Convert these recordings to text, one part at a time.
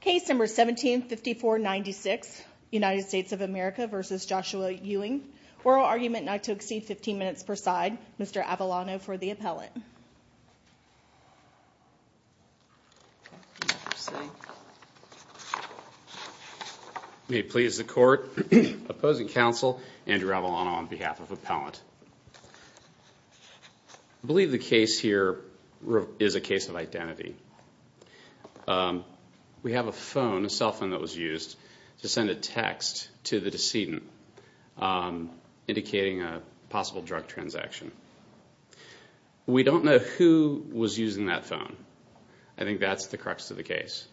Case number 175496, United States of America v. Joshua Ewing. Oral argument not to exceed 15 minutes per side. Mr. Avalano for the appellant. May it please the court. Opposing counsel, Andrew Avalano on behalf of the appellant. I believe the case here is a case of identity. We have a phone, a cell phone that was used to send a text to the decedent indicating a possible drug transaction. We don't know who was using that phone. I think that's the crux of the case.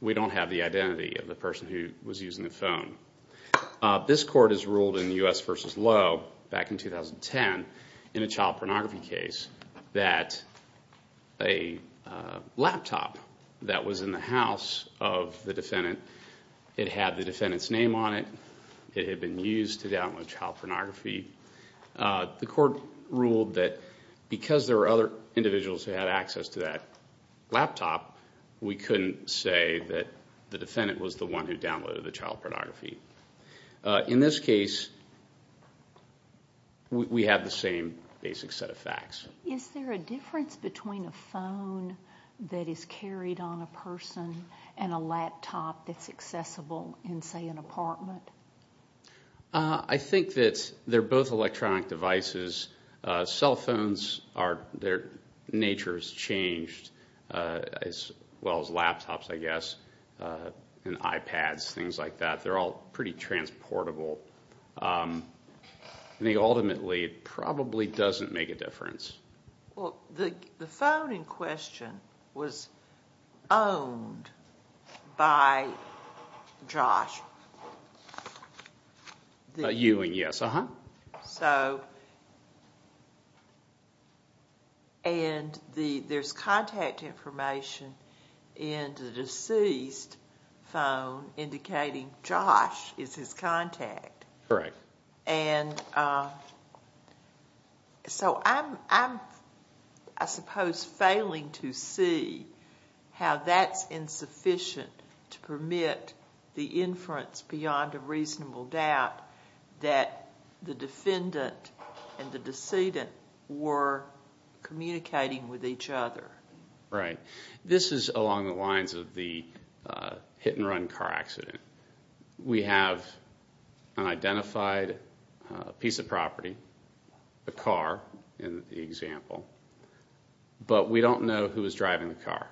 We don't have the identity of the person who was using the phone. This court has ruled in the U.S. v. Lowe back in 2010 in a child pornography case that a laptop that was in the house of the defendant, it had the defendant's name on it, it had been used to download child pornography. The court ruled that because there were other individuals who had access to that laptop, we couldn't say that the defendant was the one who downloaded the child pornography. In this case, we have the same basic set of facts. Is there a difference between a phone that is carried on a person and a laptop that's accessible in, say, an apartment? I think that they're both electronic devices. Cell phones, their nature has changed as well as laptops, I guess, and iPads, things like that. They're all pretty transportable. I think, ultimately, it probably doesn't make a difference. Well, the phone in question was owned by Josh. You and yes, uh-huh. So, and there's contact information in the deceased phone indicating Josh is his contact. Correct. And so I'm, I suppose, failing to see how that's insufficient to permit the inference beyond a reasonable doubt that the defendant and the decedent were communicating with each other. Right. This is along the lines of the hit-and-run car accident. We have an identified piece of property, a car in the example, but we don't know who was driving the car.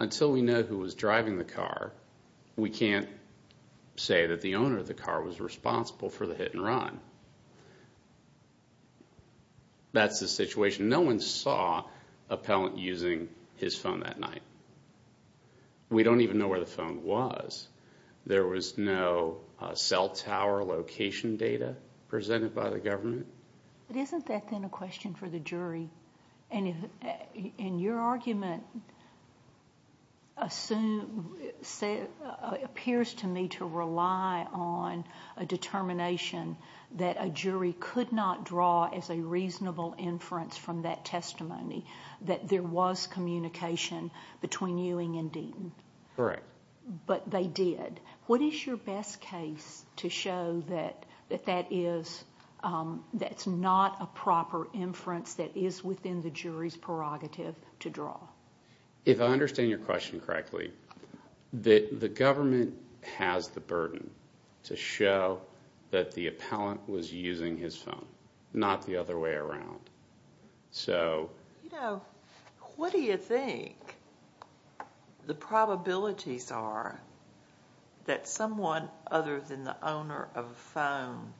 Until we know who was driving the car, we can't say that the owner of the car was responsible for the hit-and-run. That's the situation. No one saw appellant using his phone that night. We don't even know where the phone was. There was no cell tower location data presented by the government. But isn't that, then, a question for the jury? And if, in your argument, assume, say, appears to me to rely on a determination that a jury could not draw as a reasonable inference from that testimony, that there was communication between Ewing and Deaton. Correct. But they did. What is your best case to show that that is, that's not a proper inference that is within the jury's prerogative to draw? If I understand your question correctly, the government has the burden to show that the appellant was using his phone, not the other way around. So... You know, what do you think the probabilities are that someone other than the owner of a phone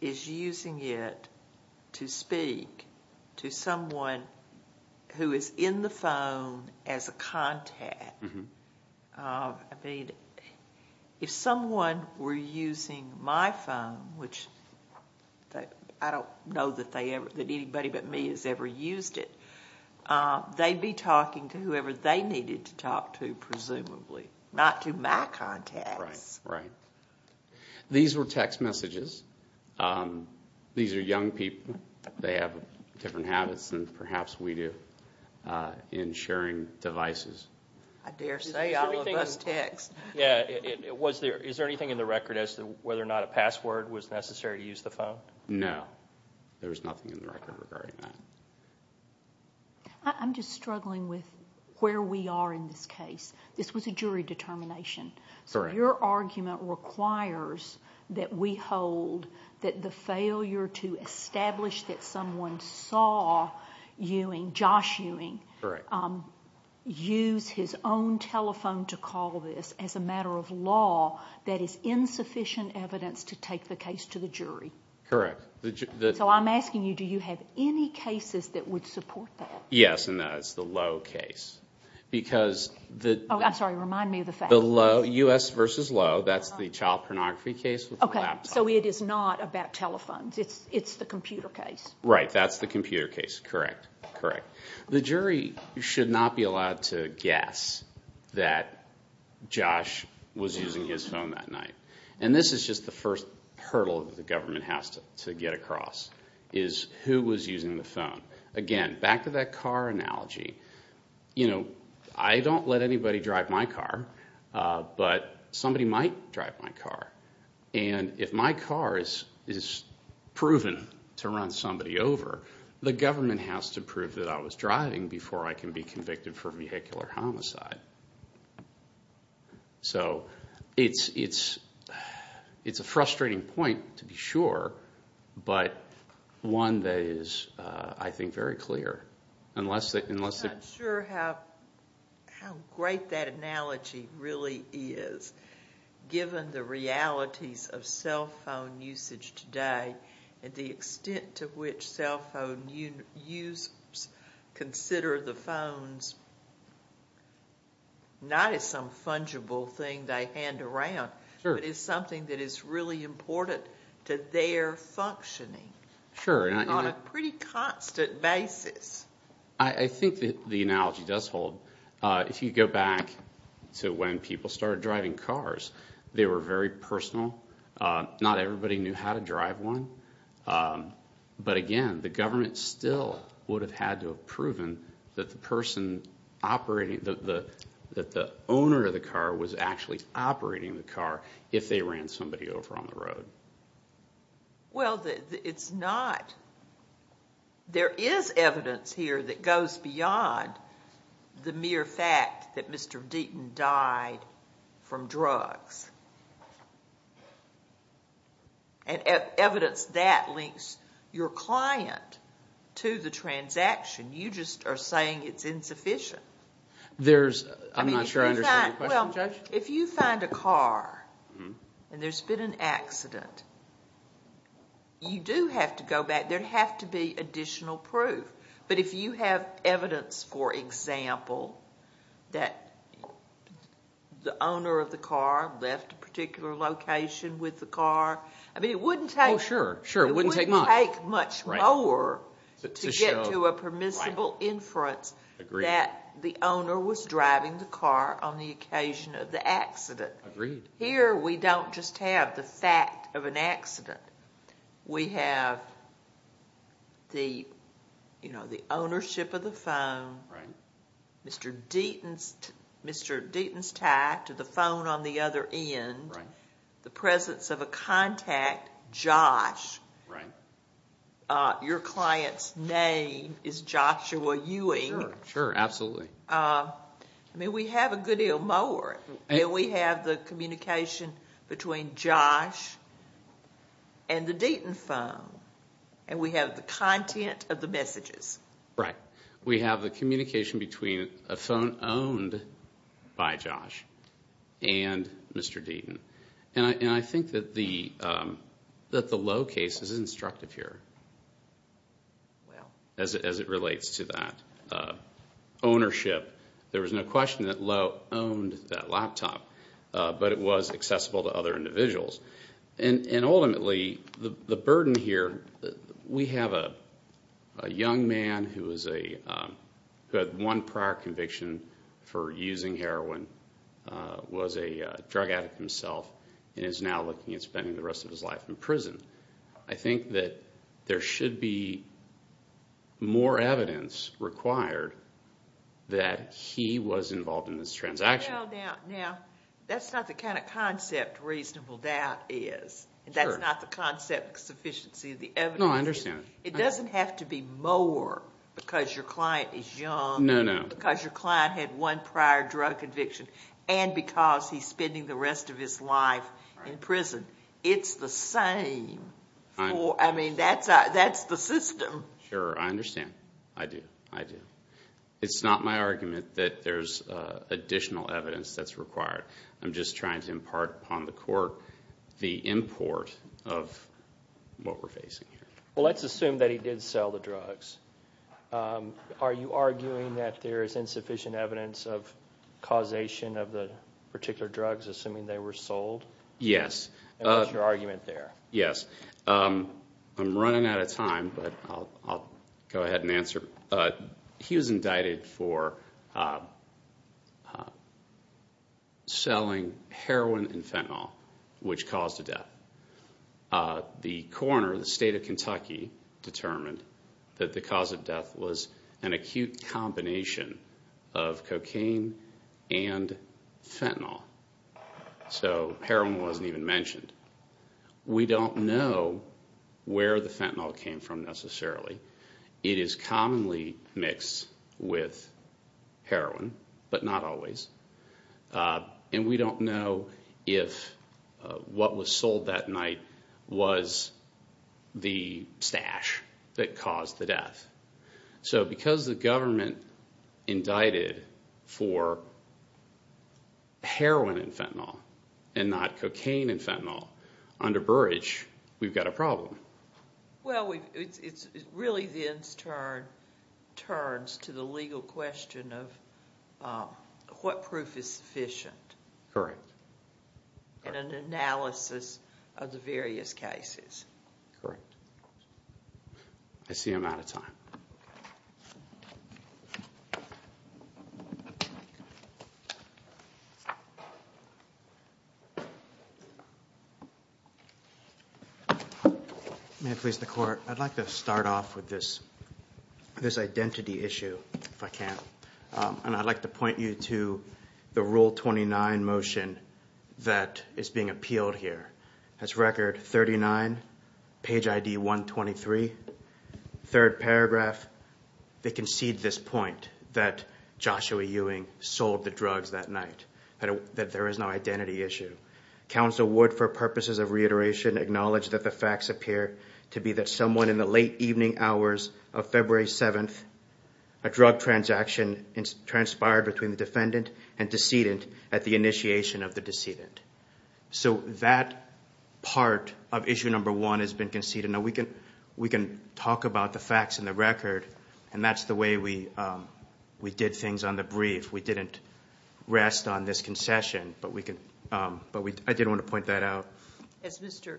is using it to speak to someone who is in the phone as a contact? I mean, if someone were using my phone, which I don't know that anybody but me has ever used it, they'd be talking to whoever they needed to talk to, presumably. Not to my contacts. Right. These were text messages. These are young people. They have different habits than perhaps we do in sharing devices. I dare say all of us text. Yeah. Was there, is there anything in the record as to whether or not a password was necessary to use the phone? No, there's nothing in the record regarding that. I'm just struggling with where we are in this case. This was a jury determination. Correct. Your argument requires that we hold that the failure to establish that someone saw Ewing, Josh Ewing, use his own telephone to call this as a matter of law, that is insufficient evidence to take the case to the jury. Correct. So I'm asking you, do you have any cases that would support that? Yes, and that is the Lowe case. Because the... Oh, I'm sorry. Remind me of the fact. The Lowe, U.S. versus Lowe, that's the child pornography case with the laptop. Okay, so it is not about telephones. It's, it's the computer case. Right. That's the computer case. Correct. Correct. The jury should not be allowed to guess that Josh was using his phone that night. And this is just the first hurdle that the government has to, to get across, is who was using the phone. Again, back to that car analogy. You know, I don't let anybody drive my car, but somebody might drive my car. And if my car is, is proven to run somebody over, the government has to prove that I was driving before I can be convicted for vehicular homicide. So, it's, it's, it's a frustrating point, to be sure, but one that is, I think, very clear, unless they, unless they... I'm not sure how, how great that analogy really is, given the realities of cell phone usage today, and the extent to which cell phone users consider the phones, not as some fungible thing they hand around, but as something that is really important to their functioning, on a pretty constant basis. I, I think that the analogy does hold. If you go back to when people started driving cars, they were very personal. Not everybody knew how to drive one. But again, the government still would have had to have proven that the person operating, that the, that the owner of the car was actually operating the car, if they ran somebody over on the road. Well, it's not... There is evidence here that goes beyond the mere fact that Mr. Deaton died from drugs. And evidence that links your client to the transaction. You just are saying it's insufficient. There's, I'm not sure I understand your question, Judge. If you find a car, and there's been an accident, you do have to go back. There'd have to be additional proof. But if you have evidence, for example, that the owner of the car left a particular location with the car, I mean, it wouldn't take... Oh, sure. Sure, it wouldn't take much. It wouldn't take much more to get to a permissible inference that the owner was driving the car on the occasion of the accident. Agreed. Here, we don't just have the fact of an accident. We have the, you know, the ownership of the phone, Mr. Deaton's tie to the phone on the other end, the presence of a contact, Josh. Your client's name is Joshua Ewing. Sure, sure, absolutely. I mean, we have a good deal more. And we have the communication between Josh and the Deaton phone, and we have the content of the messages. Right. We have the communication between a phone owned by Josh and Mr. Deaton. And I think that the Lowe case is instructive here as it relates to that ownership. There was no question that Lowe owned that laptop, but it was accessible to other individuals. And ultimately, the burden here, we have a young man who had one prior conviction for using heroin, was a drug addict himself, and is now looking at spending the rest of his life in prison. I think that there should be more evidence required that he was involved in this transaction. Now, that's not the kind of concept reasonable doubt is. That's not the concept of sufficiency of the evidence. No, I understand. It doesn't have to be more because your client is young, because your client had one prior drug conviction, and because he's spending the rest of his life in prison. It's the same. I mean, that's the system. Sure, I understand. I do. I do. It's not my argument that there's additional evidence that's required. I'm just trying to impart upon the court the import of what we're facing here. Well, let's assume that he did sell the drugs. Are you arguing that there is insufficient evidence of causation of the particular drugs, assuming they were sold? Yes. What's your argument there? Yes. I'm running out of time, but I'll go ahead and answer. He was indicted for selling heroin and fentanyl, which caused a death. The coroner, the state of Kentucky, determined that the cause of death was an acute combination of cocaine and fentanyl. So, heroin wasn't even mentioned. We don't know where the fentanyl came from, necessarily. It is commonly mixed with heroin, but not always. And we don't know if what was sold that night was the stash that caused the death. So, because the government indicted for heroin and fentanyl, and not cocaine and fentanyl, under Burrage, we've got a problem. Well, it really then turns to the legal question of what proof is sufficient in an analysis of the various cases. Correct. I see I'm out of time. Thank you. May it please the Court, I'd like to start off with this identity issue, if I can. And I'd like to point you to the Rule 29 motion that is being appealed here. That's Record 39, Page ID 123, third paragraph. They concede this point, that Joshua Ewing sold the drugs that night, that there is no identity issue. Council would, for purposes of reiteration, acknowledge that the facts appear to be that someone in the late evening hours of February 7th, a drug transaction transpired between the defendant and decedent at the initiation of the decedent. So, that part of issue number one has been conceded. Now, we can talk about the facts in the record, and that's the way we did things on the brief. We didn't rest on this concession, but I did want to point that out. Has Mr.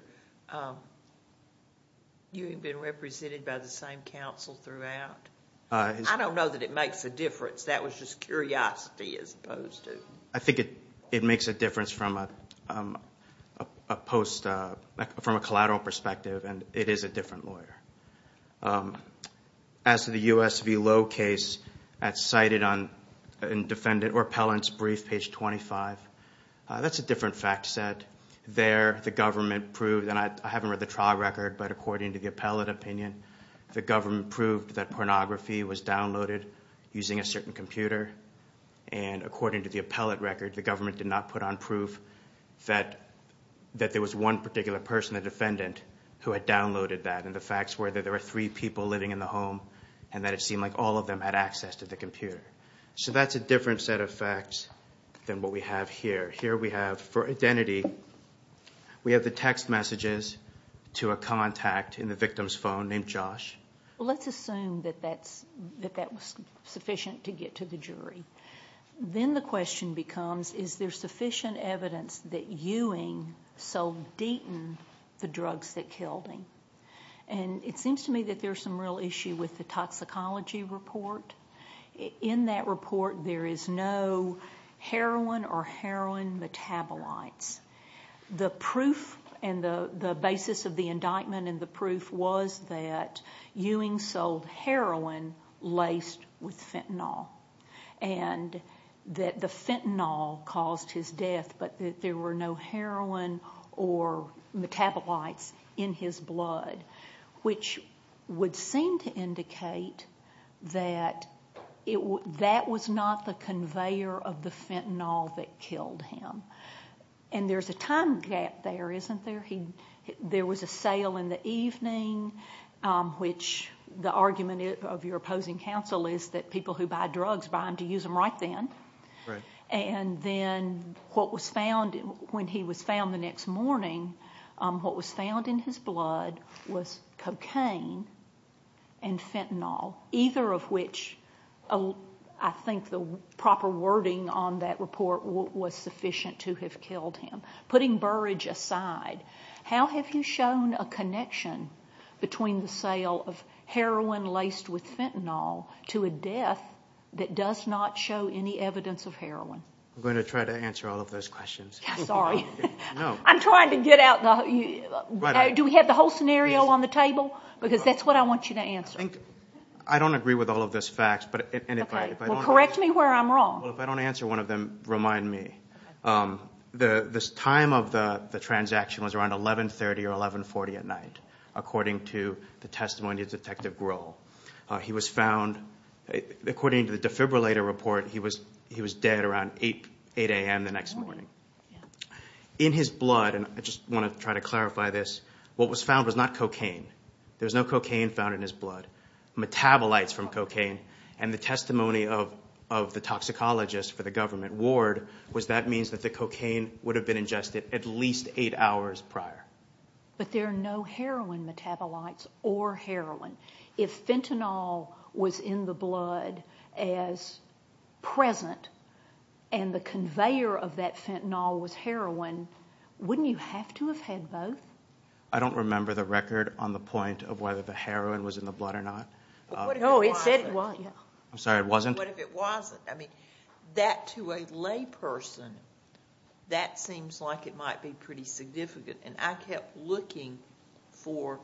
Ewing been represented by the same council throughout? I don't know that it makes a difference. That was just curiosity, as opposed to... I think it makes a difference from a post, from a collateral perspective, and it is a different lawyer. As to the US v. Lowe case that's cited on defendant or appellant's brief, Page 25, that's a different fact set. There, the government proved, and I haven't read the trial record, but according to the appellate opinion, the government proved that pornography was downloaded using a certain computer. And according to the appellate record, the government did not put on proof that there was one particular person, the defendant, who had downloaded that. And the facts were that there were three people living in the home, and that it seemed like all of them had access to the computer. So, that's a different set of facts than what we have here. Here we have, for identity, we have the text messages to a contact in the victim's phone named Josh. Let's assume that that was sufficient to get to the jury. Then the question becomes, is there sufficient evidence that Ewing sold Deaton the drugs that killed him? And it seems to me that there's some real issue with the toxicology report. In that report, there is no heroin or heroin metabolites. The proof and the basis of the indictment and the proof was that Ewing sold heroin laced with fentanyl. And that the fentanyl caused his death, but that there were no heroin or metabolites in his blood, which would seem to indicate that that was not the conveyor of the fentanyl that killed him. And there's a time gap there, isn't there? There was a sale in the evening, which the argument of your opposing counsel is that people who buy drugs buy them to use them right then. And then what was found when he was found the next morning, what was found in his blood was cocaine and fentanyl, either of which I think the proper wording on that report was sufficient to have killed him. Putting Burridge aside, how have you shown a connection between the sale of heroin laced with fentanyl to a death that does not show any evidence of heroin? I'm going to try to answer all of those questions. Sorry. I'm trying to get out. Do we have the whole scenario on the table? Because that's what I want you to answer. I think I don't agree with all of this facts, but if I correct me where I'm wrong, if I don't answer one of them, remind me. The time of the transaction was around 1130 or 1140 at night, according to the testimony of Detective Grohl. He was found, according to the defibrillator report, he was dead around 8 a.m. the next morning in his blood. And I just want to try to clarify this. What was found was not cocaine. There was no cocaine found in his blood. Metabolites from cocaine. And the testimony of the toxicologist for the government ward was that means that the cocaine would have been ingested at least eight hours prior. But there are no heroin metabolites or heroin. If fentanyl was in the blood as present and the conveyor of that fentanyl was heroin, wouldn't you have to have had both? I don't remember the record on the point of whether the heroin was in the blood or not. No, it said it wasn't. I'm sorry, it wasn't? What if it wasn't? I mean, that to a lay person, that seems like it might be pretty significant. And I kept looking for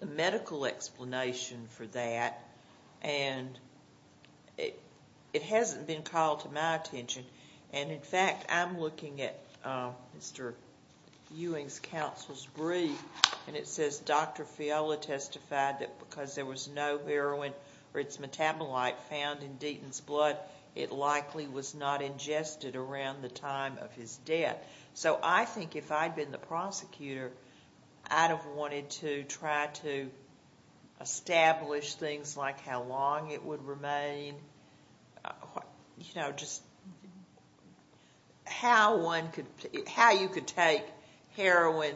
the medical explanation for that, and it hasn't been called to my attention. And in fact, I'm looking at Mr. Ewing's counsel's brief, and it says Dr. Fiola testified that because there was no heroin or its metabolite found in Deaton's blood, it likely was not ingested around the time of his death. So I think if I'd been the prosecutor, I'd have wanted to try to establish things like how long it would remain. You know, just how one could, how you could take heroin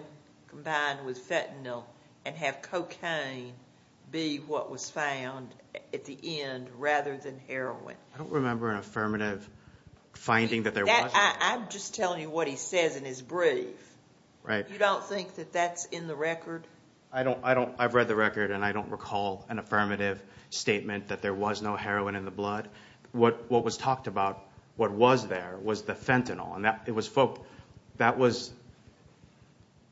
combined with fentanyl and have cocaine be what was found at the end, rather than heroin. I don't remember an affirmative finding that there was. I'm just telling you what he says in his brief. Right. You don't think that that's in the record? I don't, I don't, I've read the record, and I don't recall an affirmative statement that there was no heroin in the blood. What was talked about, what was there, was the fentanyl. And that, it was, that was,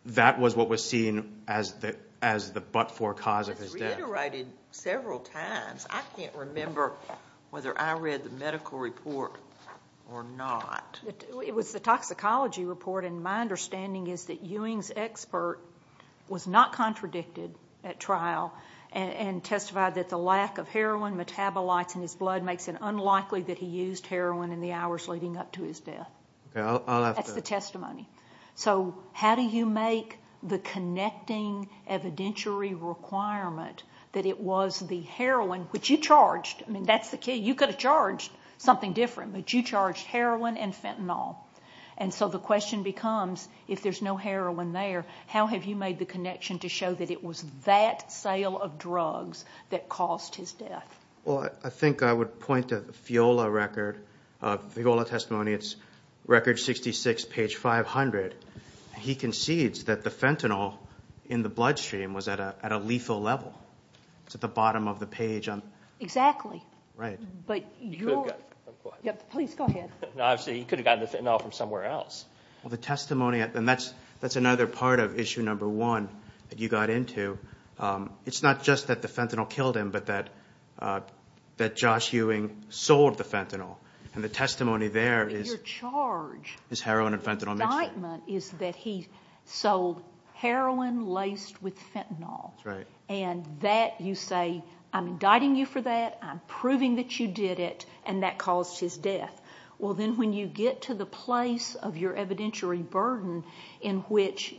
that was what was seen as the, as the but-for cause of his death. It's reiterated several times. I can't remember whether I read the medical report or not. It was the toxicology report. And my understanding is that Ewing's expert was not contradicted at trial and testified that the lack of heroin metabolites in his blood makes it unlikely that he used heroin in the hours leading up to his death. That's the testimony. So how do you make the connecting evidentiary requirement that it was the heroin, which you charged? I mean, that's the key. You could have charged something different, but you charged heroin and fentanyl. And so the question becomes, if there's no heroin there, how have you made the connection to show that it was that sale of drugs that caused his death? Well, I think I would point to the Fiola record, Fiola testimony. It's record 66, page 500. He concedes that the fentanyl in the bloodstream was at a lethal level. It's at the bottom of the page. Exactly. Right. But you could have gotten the fentanyl from somewhere else. Well, the testimony, and that's another part of issue number one that you got into. It's not just that the fentanyl killed him, but that Josh Ewing sold the fentanyl. And the testimony there is his heroin and fentanyl mix. And his statement is that he sold heroin laced with fentanyl. That's right. And that you say, I'm indicting you for that, I'm proving that you did it, and that caused his death. Well, then when you get to the place of your evidentiary burden in which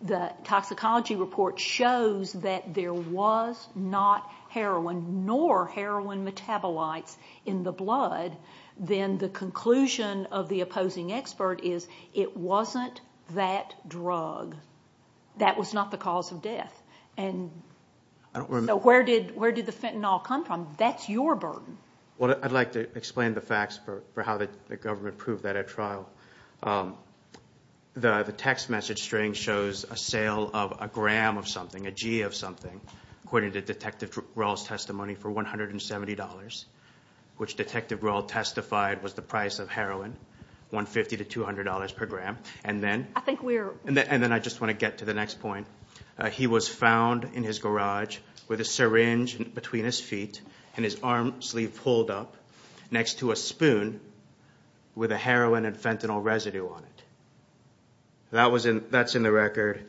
the toxicology report shows that there was not heroin nor heroin metabolites in the blood, then the conclusion of the opposing expert is it wasn't that drug. That was not the cause of death. And so where did the fentanyl come from? That's your burden. Well, I'd like to explain the facts for how the government proved that at trial. The text message string shows a sale of a gram of something, a G of something, according to Detective Rall's testimony for $170, which Detective Rall testified was the price of heroin, $150 to $200 per gram. And then I just want to get to the next point. He was found in his garage with a syringe between his feet and his arm sleeve pulled up next to a spoon with a heroin and fentanyl residue on it. That's in the record.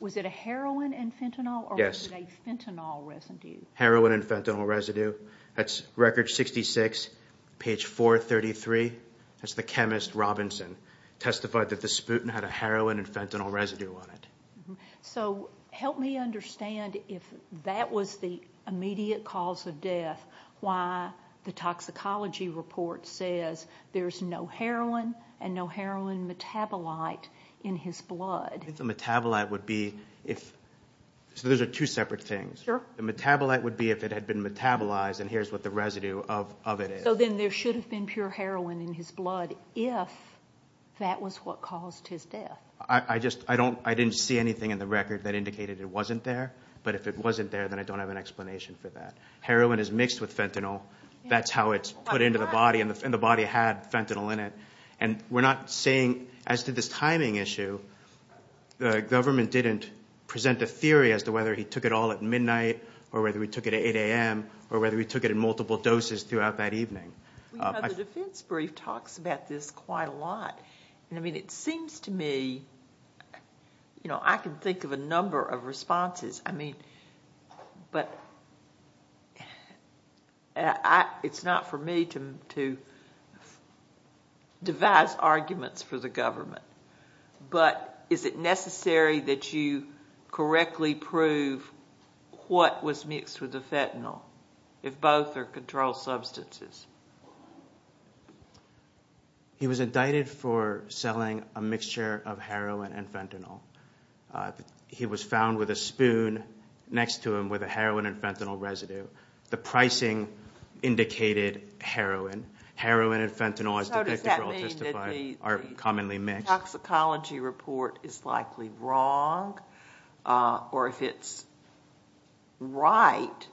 Was it a heroin and fentanyl or was it a fentanyl residue? Heroin and fentanyl residue. That's record 66, page 433. That's the chemist Robinson testified that the sputum had a heroin and fentanyl residue on it. So help me understand if that was the immediate cause of death. Why the toxicology report says there's no heroin and no heroin metabolite in his blood. I think the metabolite would be if, so those are two separate things. Sure. The metabolite would be if it had been metabolized and here's what the residue of it is. So then there should have been pure heroin in his blood if that was what caused his death. I just, I don't, I didn't see anything in the record that indicated it wasn't there. But if it wasn't there, then I don't have an explanation for that. Heroin is mixed with fentanyl. That's how it's put into the body and the body had fentanyl in it. And we're not saying, as to this timing issue, the government didn't present a theory as to whether he took it all at midnight or whether he took it at 8 a.m. or whether he took it in multiple doses throughout that evening. You know, the defense brief talks about this quite a lot. I mean, it seems to me, you know, I can think of a number of responses. I mean, but it's not for me to devise arguments for the government. But is it necessary that you correctly prove what was mixed with the fentanyl if both are controlled substances? He was indicted for selling a mixture of heroin and fentanyl. He was found with a spoon next to him with a heroin and fentanyl residue. The pricing indicated heroin. Heroin and fentanyl, as the victim girl testified, are commonly mixed. So does that mean that the toxicology report is likely wrong? Or if it's right,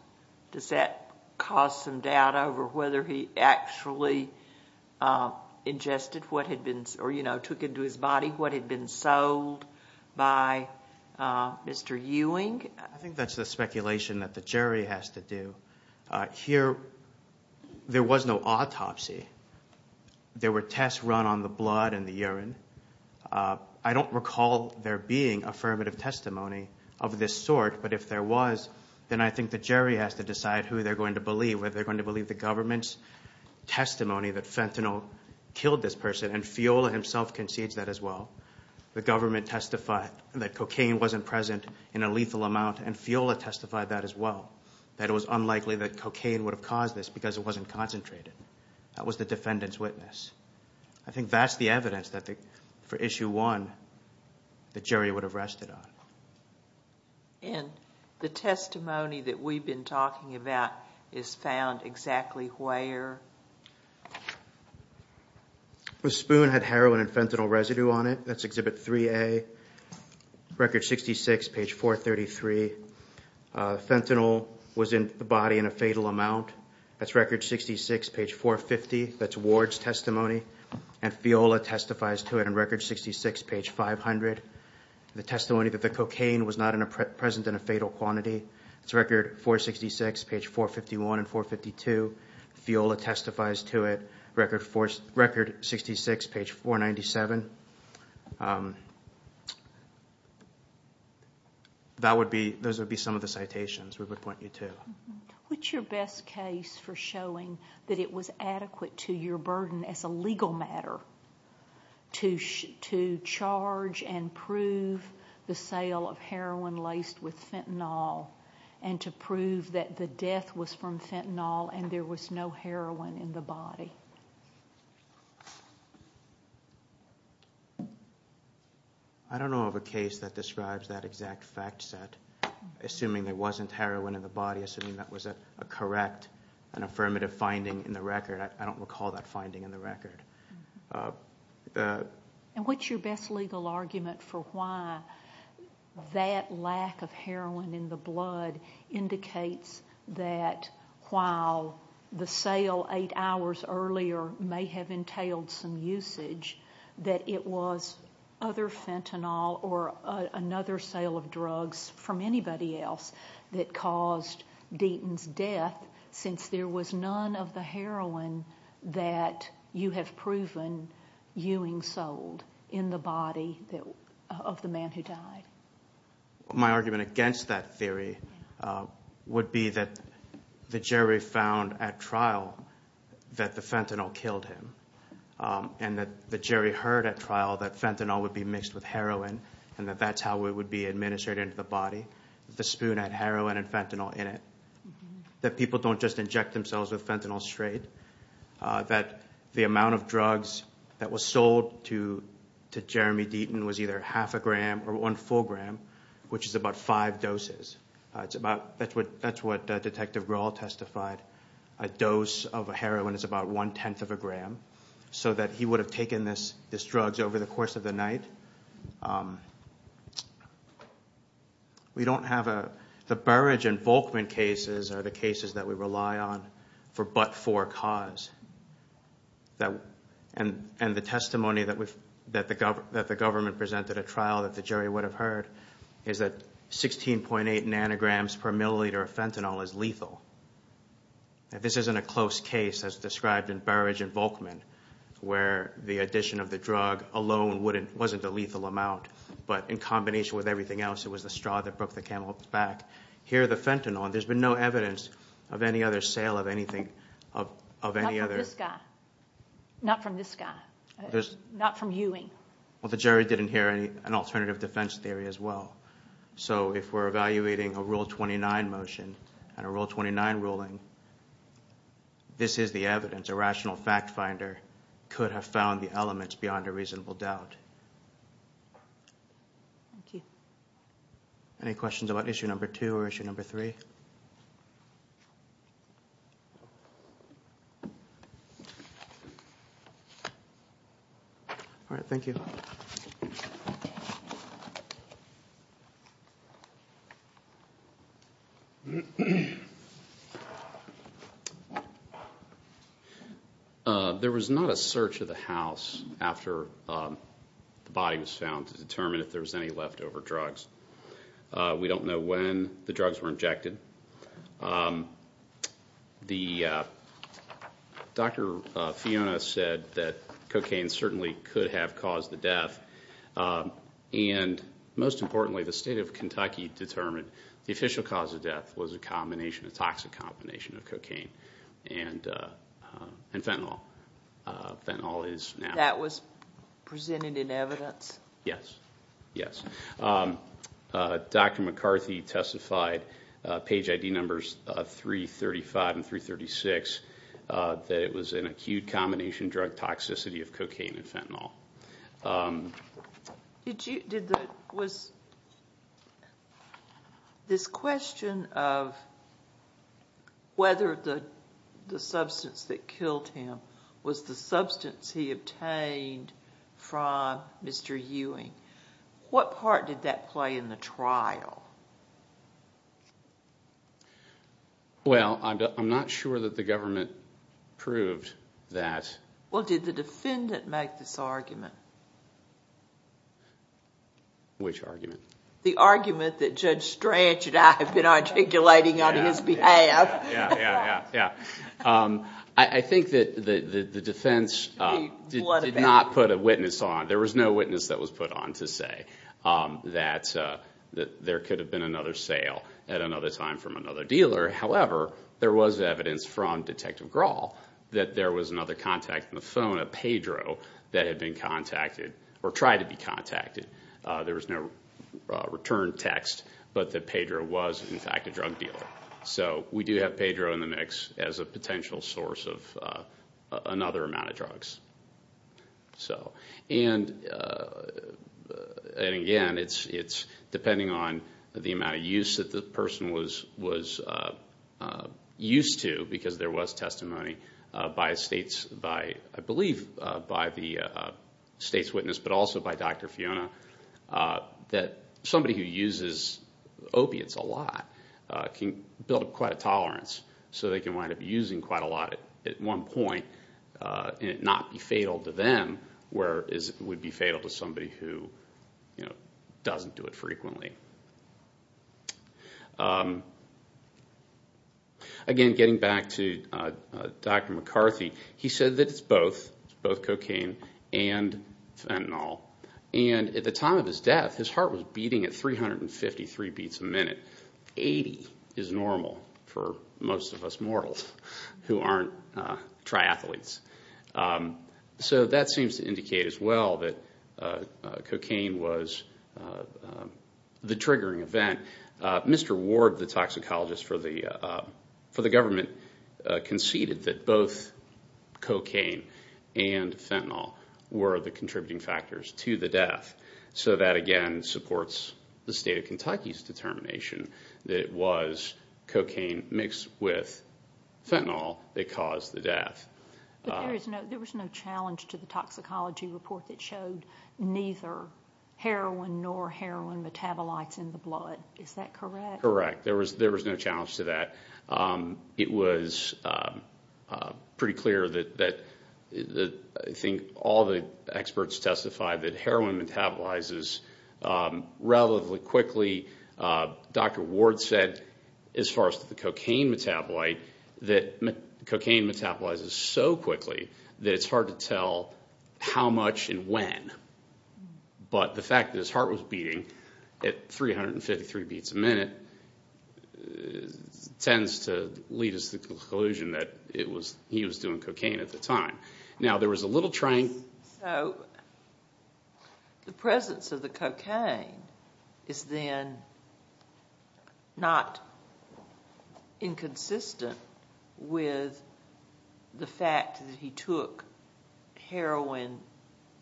does that cause some doubt over whether he actually ingested what had been, or, you know, took into his body what had been sold by Mr. Ewing? I think that's the speculation that the jury has to do. Here, there was no autopsy. There were tests run on the blood and the urine. I don't recall there being affirmative testimony of this sort. But if there was, then I think the jury has to decide who they're going to believe, whether they're going to believe the government's testimony that fentanyl killed this person and Fiola himself concedes that as well. The government testified that cocaine wasn't present in a lethal amount and Fiola testified that as well, that it was unlikely that cocaine would have caused this because it wasn't concentrated. That was the defendant's witness. I think that's the evidence that for Issue 1, the jury would have rested on. And the testimony that we've been talking about is found exactly where? The spoon had heroin and fentanyl residue on it. That's Exhibit 3A, Record 66, Page 433. Fentanyl was in the body in a fatal amount. That's Record 66, Page 450. That's Ward's testimony and Fiola testifies to it in Record 66, Page 500. The testimony that the cocaine was not present in a fatal quantity. That's Record 466, Page 451 and 452. Fiola testifies to it, Record 66, Page 497. Those would be some of the citations we would point you to. What's your best case for showing that it was adequate to your burden as a legal matter to charge and prove the sale of heroin laced with fentanyl and to prove that the death was from fentanyl and there was no heroin in the body? I don't know of a case that describes that exact fact set. Assuming there wasn't heroin in the body, assuming that was a correct and affirmative finding in the record. What's your best legal argument for why that lack of heroin in the blood indicates that while the sale eight hours earlier may have entailed some usage, that it was other fentanyl or another sale of drugs from anybody else that caused Deaton's death since there was none of the heroin that you have proven Ewing sold in the body of the man who died? My argument against that theory would be that the jury found at trial that the fentanyl killed him and that the jury heard at trial that fentanyl would be mixed with heroin and that that's how it would be administered into the body. The spoon had heroin and fentanyl in it. That people don't just inject themselves with fentanyl straight, that the amount of drugs that was sold to Jeremy Deaton was either half a gram or one full gram, which is about five doses. That's what Detective Grohl testified. A dose of heroin is about one-tenth of a gram so that he would have taken this drugs over the course of the night. The Burridge and Volkman cases are the cases that we rely on for but for cause. And the testimony that the government presented at trial that the jury would have heard is that 16.8 nanograms per milliliter of fentanyl is lethal. This isn't a close case as described in Burridge and Volkman where the addition of the drug alone wasn't a lethal amount but in combination with everything else, it was the straw that broke the camel's back. Here the fentanyl, there's been no evidence of any other sale of anything, of any other... Not from this guy. Not from this guy. Not from Ewing. Well, the jury didn't hear an alternative defense theory as well. So if we're evaluating a Rule 29 motion and a Rule 29 ruling, this is the evidence, a rational fact finder could have found the elements beyond a reasonable doubt. Any questions about issue number two or issue number three? All right, thank you. There was not a search of the house after the body was found to determine if there was any leftover drugs. We don't know when the drugs were injected. The search was not conducted. Dr. Fiona said that cocaine certainly could have caused the death. And most importantly, the state of Kentucky determined the official cause of death was a combination, a toxic combination of cocaine and fentanyl. Fentanyl is now... That was presented in evidence? Yes, yes. Dr. McCarthy testified, page ID numbers 335 and 336, that it was an acute combination drug toxicity of cocaine and fentanyl. This question of whether the substance that killed him was the substance he obtained from Mr. Ewing, what part did that play in the trial? Well, I'm not sure that the government proved that. Well, did the defendant make this argument? Which argument? The argument that Judge Strach and I have been articulating on his behalf. I think that the defense did not put a witness on. There was no witness that was put on to say that there could have been another sale at another time from another dealer. However, there was evidence from Detective Grawl that there was another contact on the phone, a Pedro, that had been contacted, or tried to be contacted. There was no return text, but that Pedro was in fact a drug dealer. So we do have Pedro in the mix as a potential source of another amount of drugs. And again, it's depending on the amount of use that the person was used to, because there was testimony by the state's witness, but also by Dr. Fiona, that somebody who uses opiates a lot can build up quite a tolerance. So they can wind up using quite a lot at one point, and it would not be fatal to them, whereas it would be fatal to somebody who doesn't do it frequently. Again, getting back to Dr. McCarthy, he said that it's both cocaine and fentanyl. And at the time of his death, his heart was beating at 353 beats a minute. 80 is normal for most of us mortals who aren't triathletes. So that seems to indicate as well that cocaine was the triggering event. Mr. Ward, the toxicologist for the government, conceded that both cocaine and fentanyl were the contributing factors to the death. So that again supports the state of Kentucky's determination that it was cocaine mixed with fentanyl that caused the death. But there was no challenge to the toxicology report that showed neither heroin nor heroin metabolites in the blood. Is that correct? Correct. There was no challenge to that. It was pretty clear that I think all the experts testified that heroin metabolizes relatively quickly. Dr. Ward said, as far as the cocaine metabolite, that cocaine metabolizes so quickly that it's hard to tell how much and when. But the fact that his heart was beating at 353 beats a minute tends to lead us to the conclusion that he was doing cocaine at the time. So the presence of the cocaine is then not inconsistent with the fact that he took heroin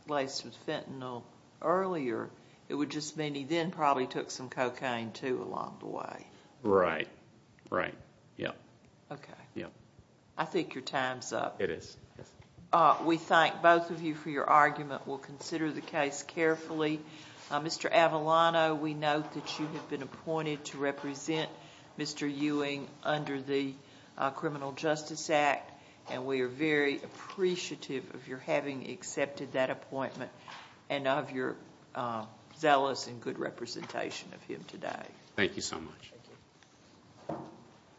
laced with fentanyl earlier. It would just mean he then probably took some cocaine too along the way. Right, right. Okay. I think your time's up. It is. We thank both of you for your argument. We'll consider the case carefully. Mr. Avellano, we note that you have been appointed to represent Mr. Ewing under the Criminal Justice Act, and we are very appreciative of your having accepted that appointment and of your zealous and good representation of him today. Thank you so much.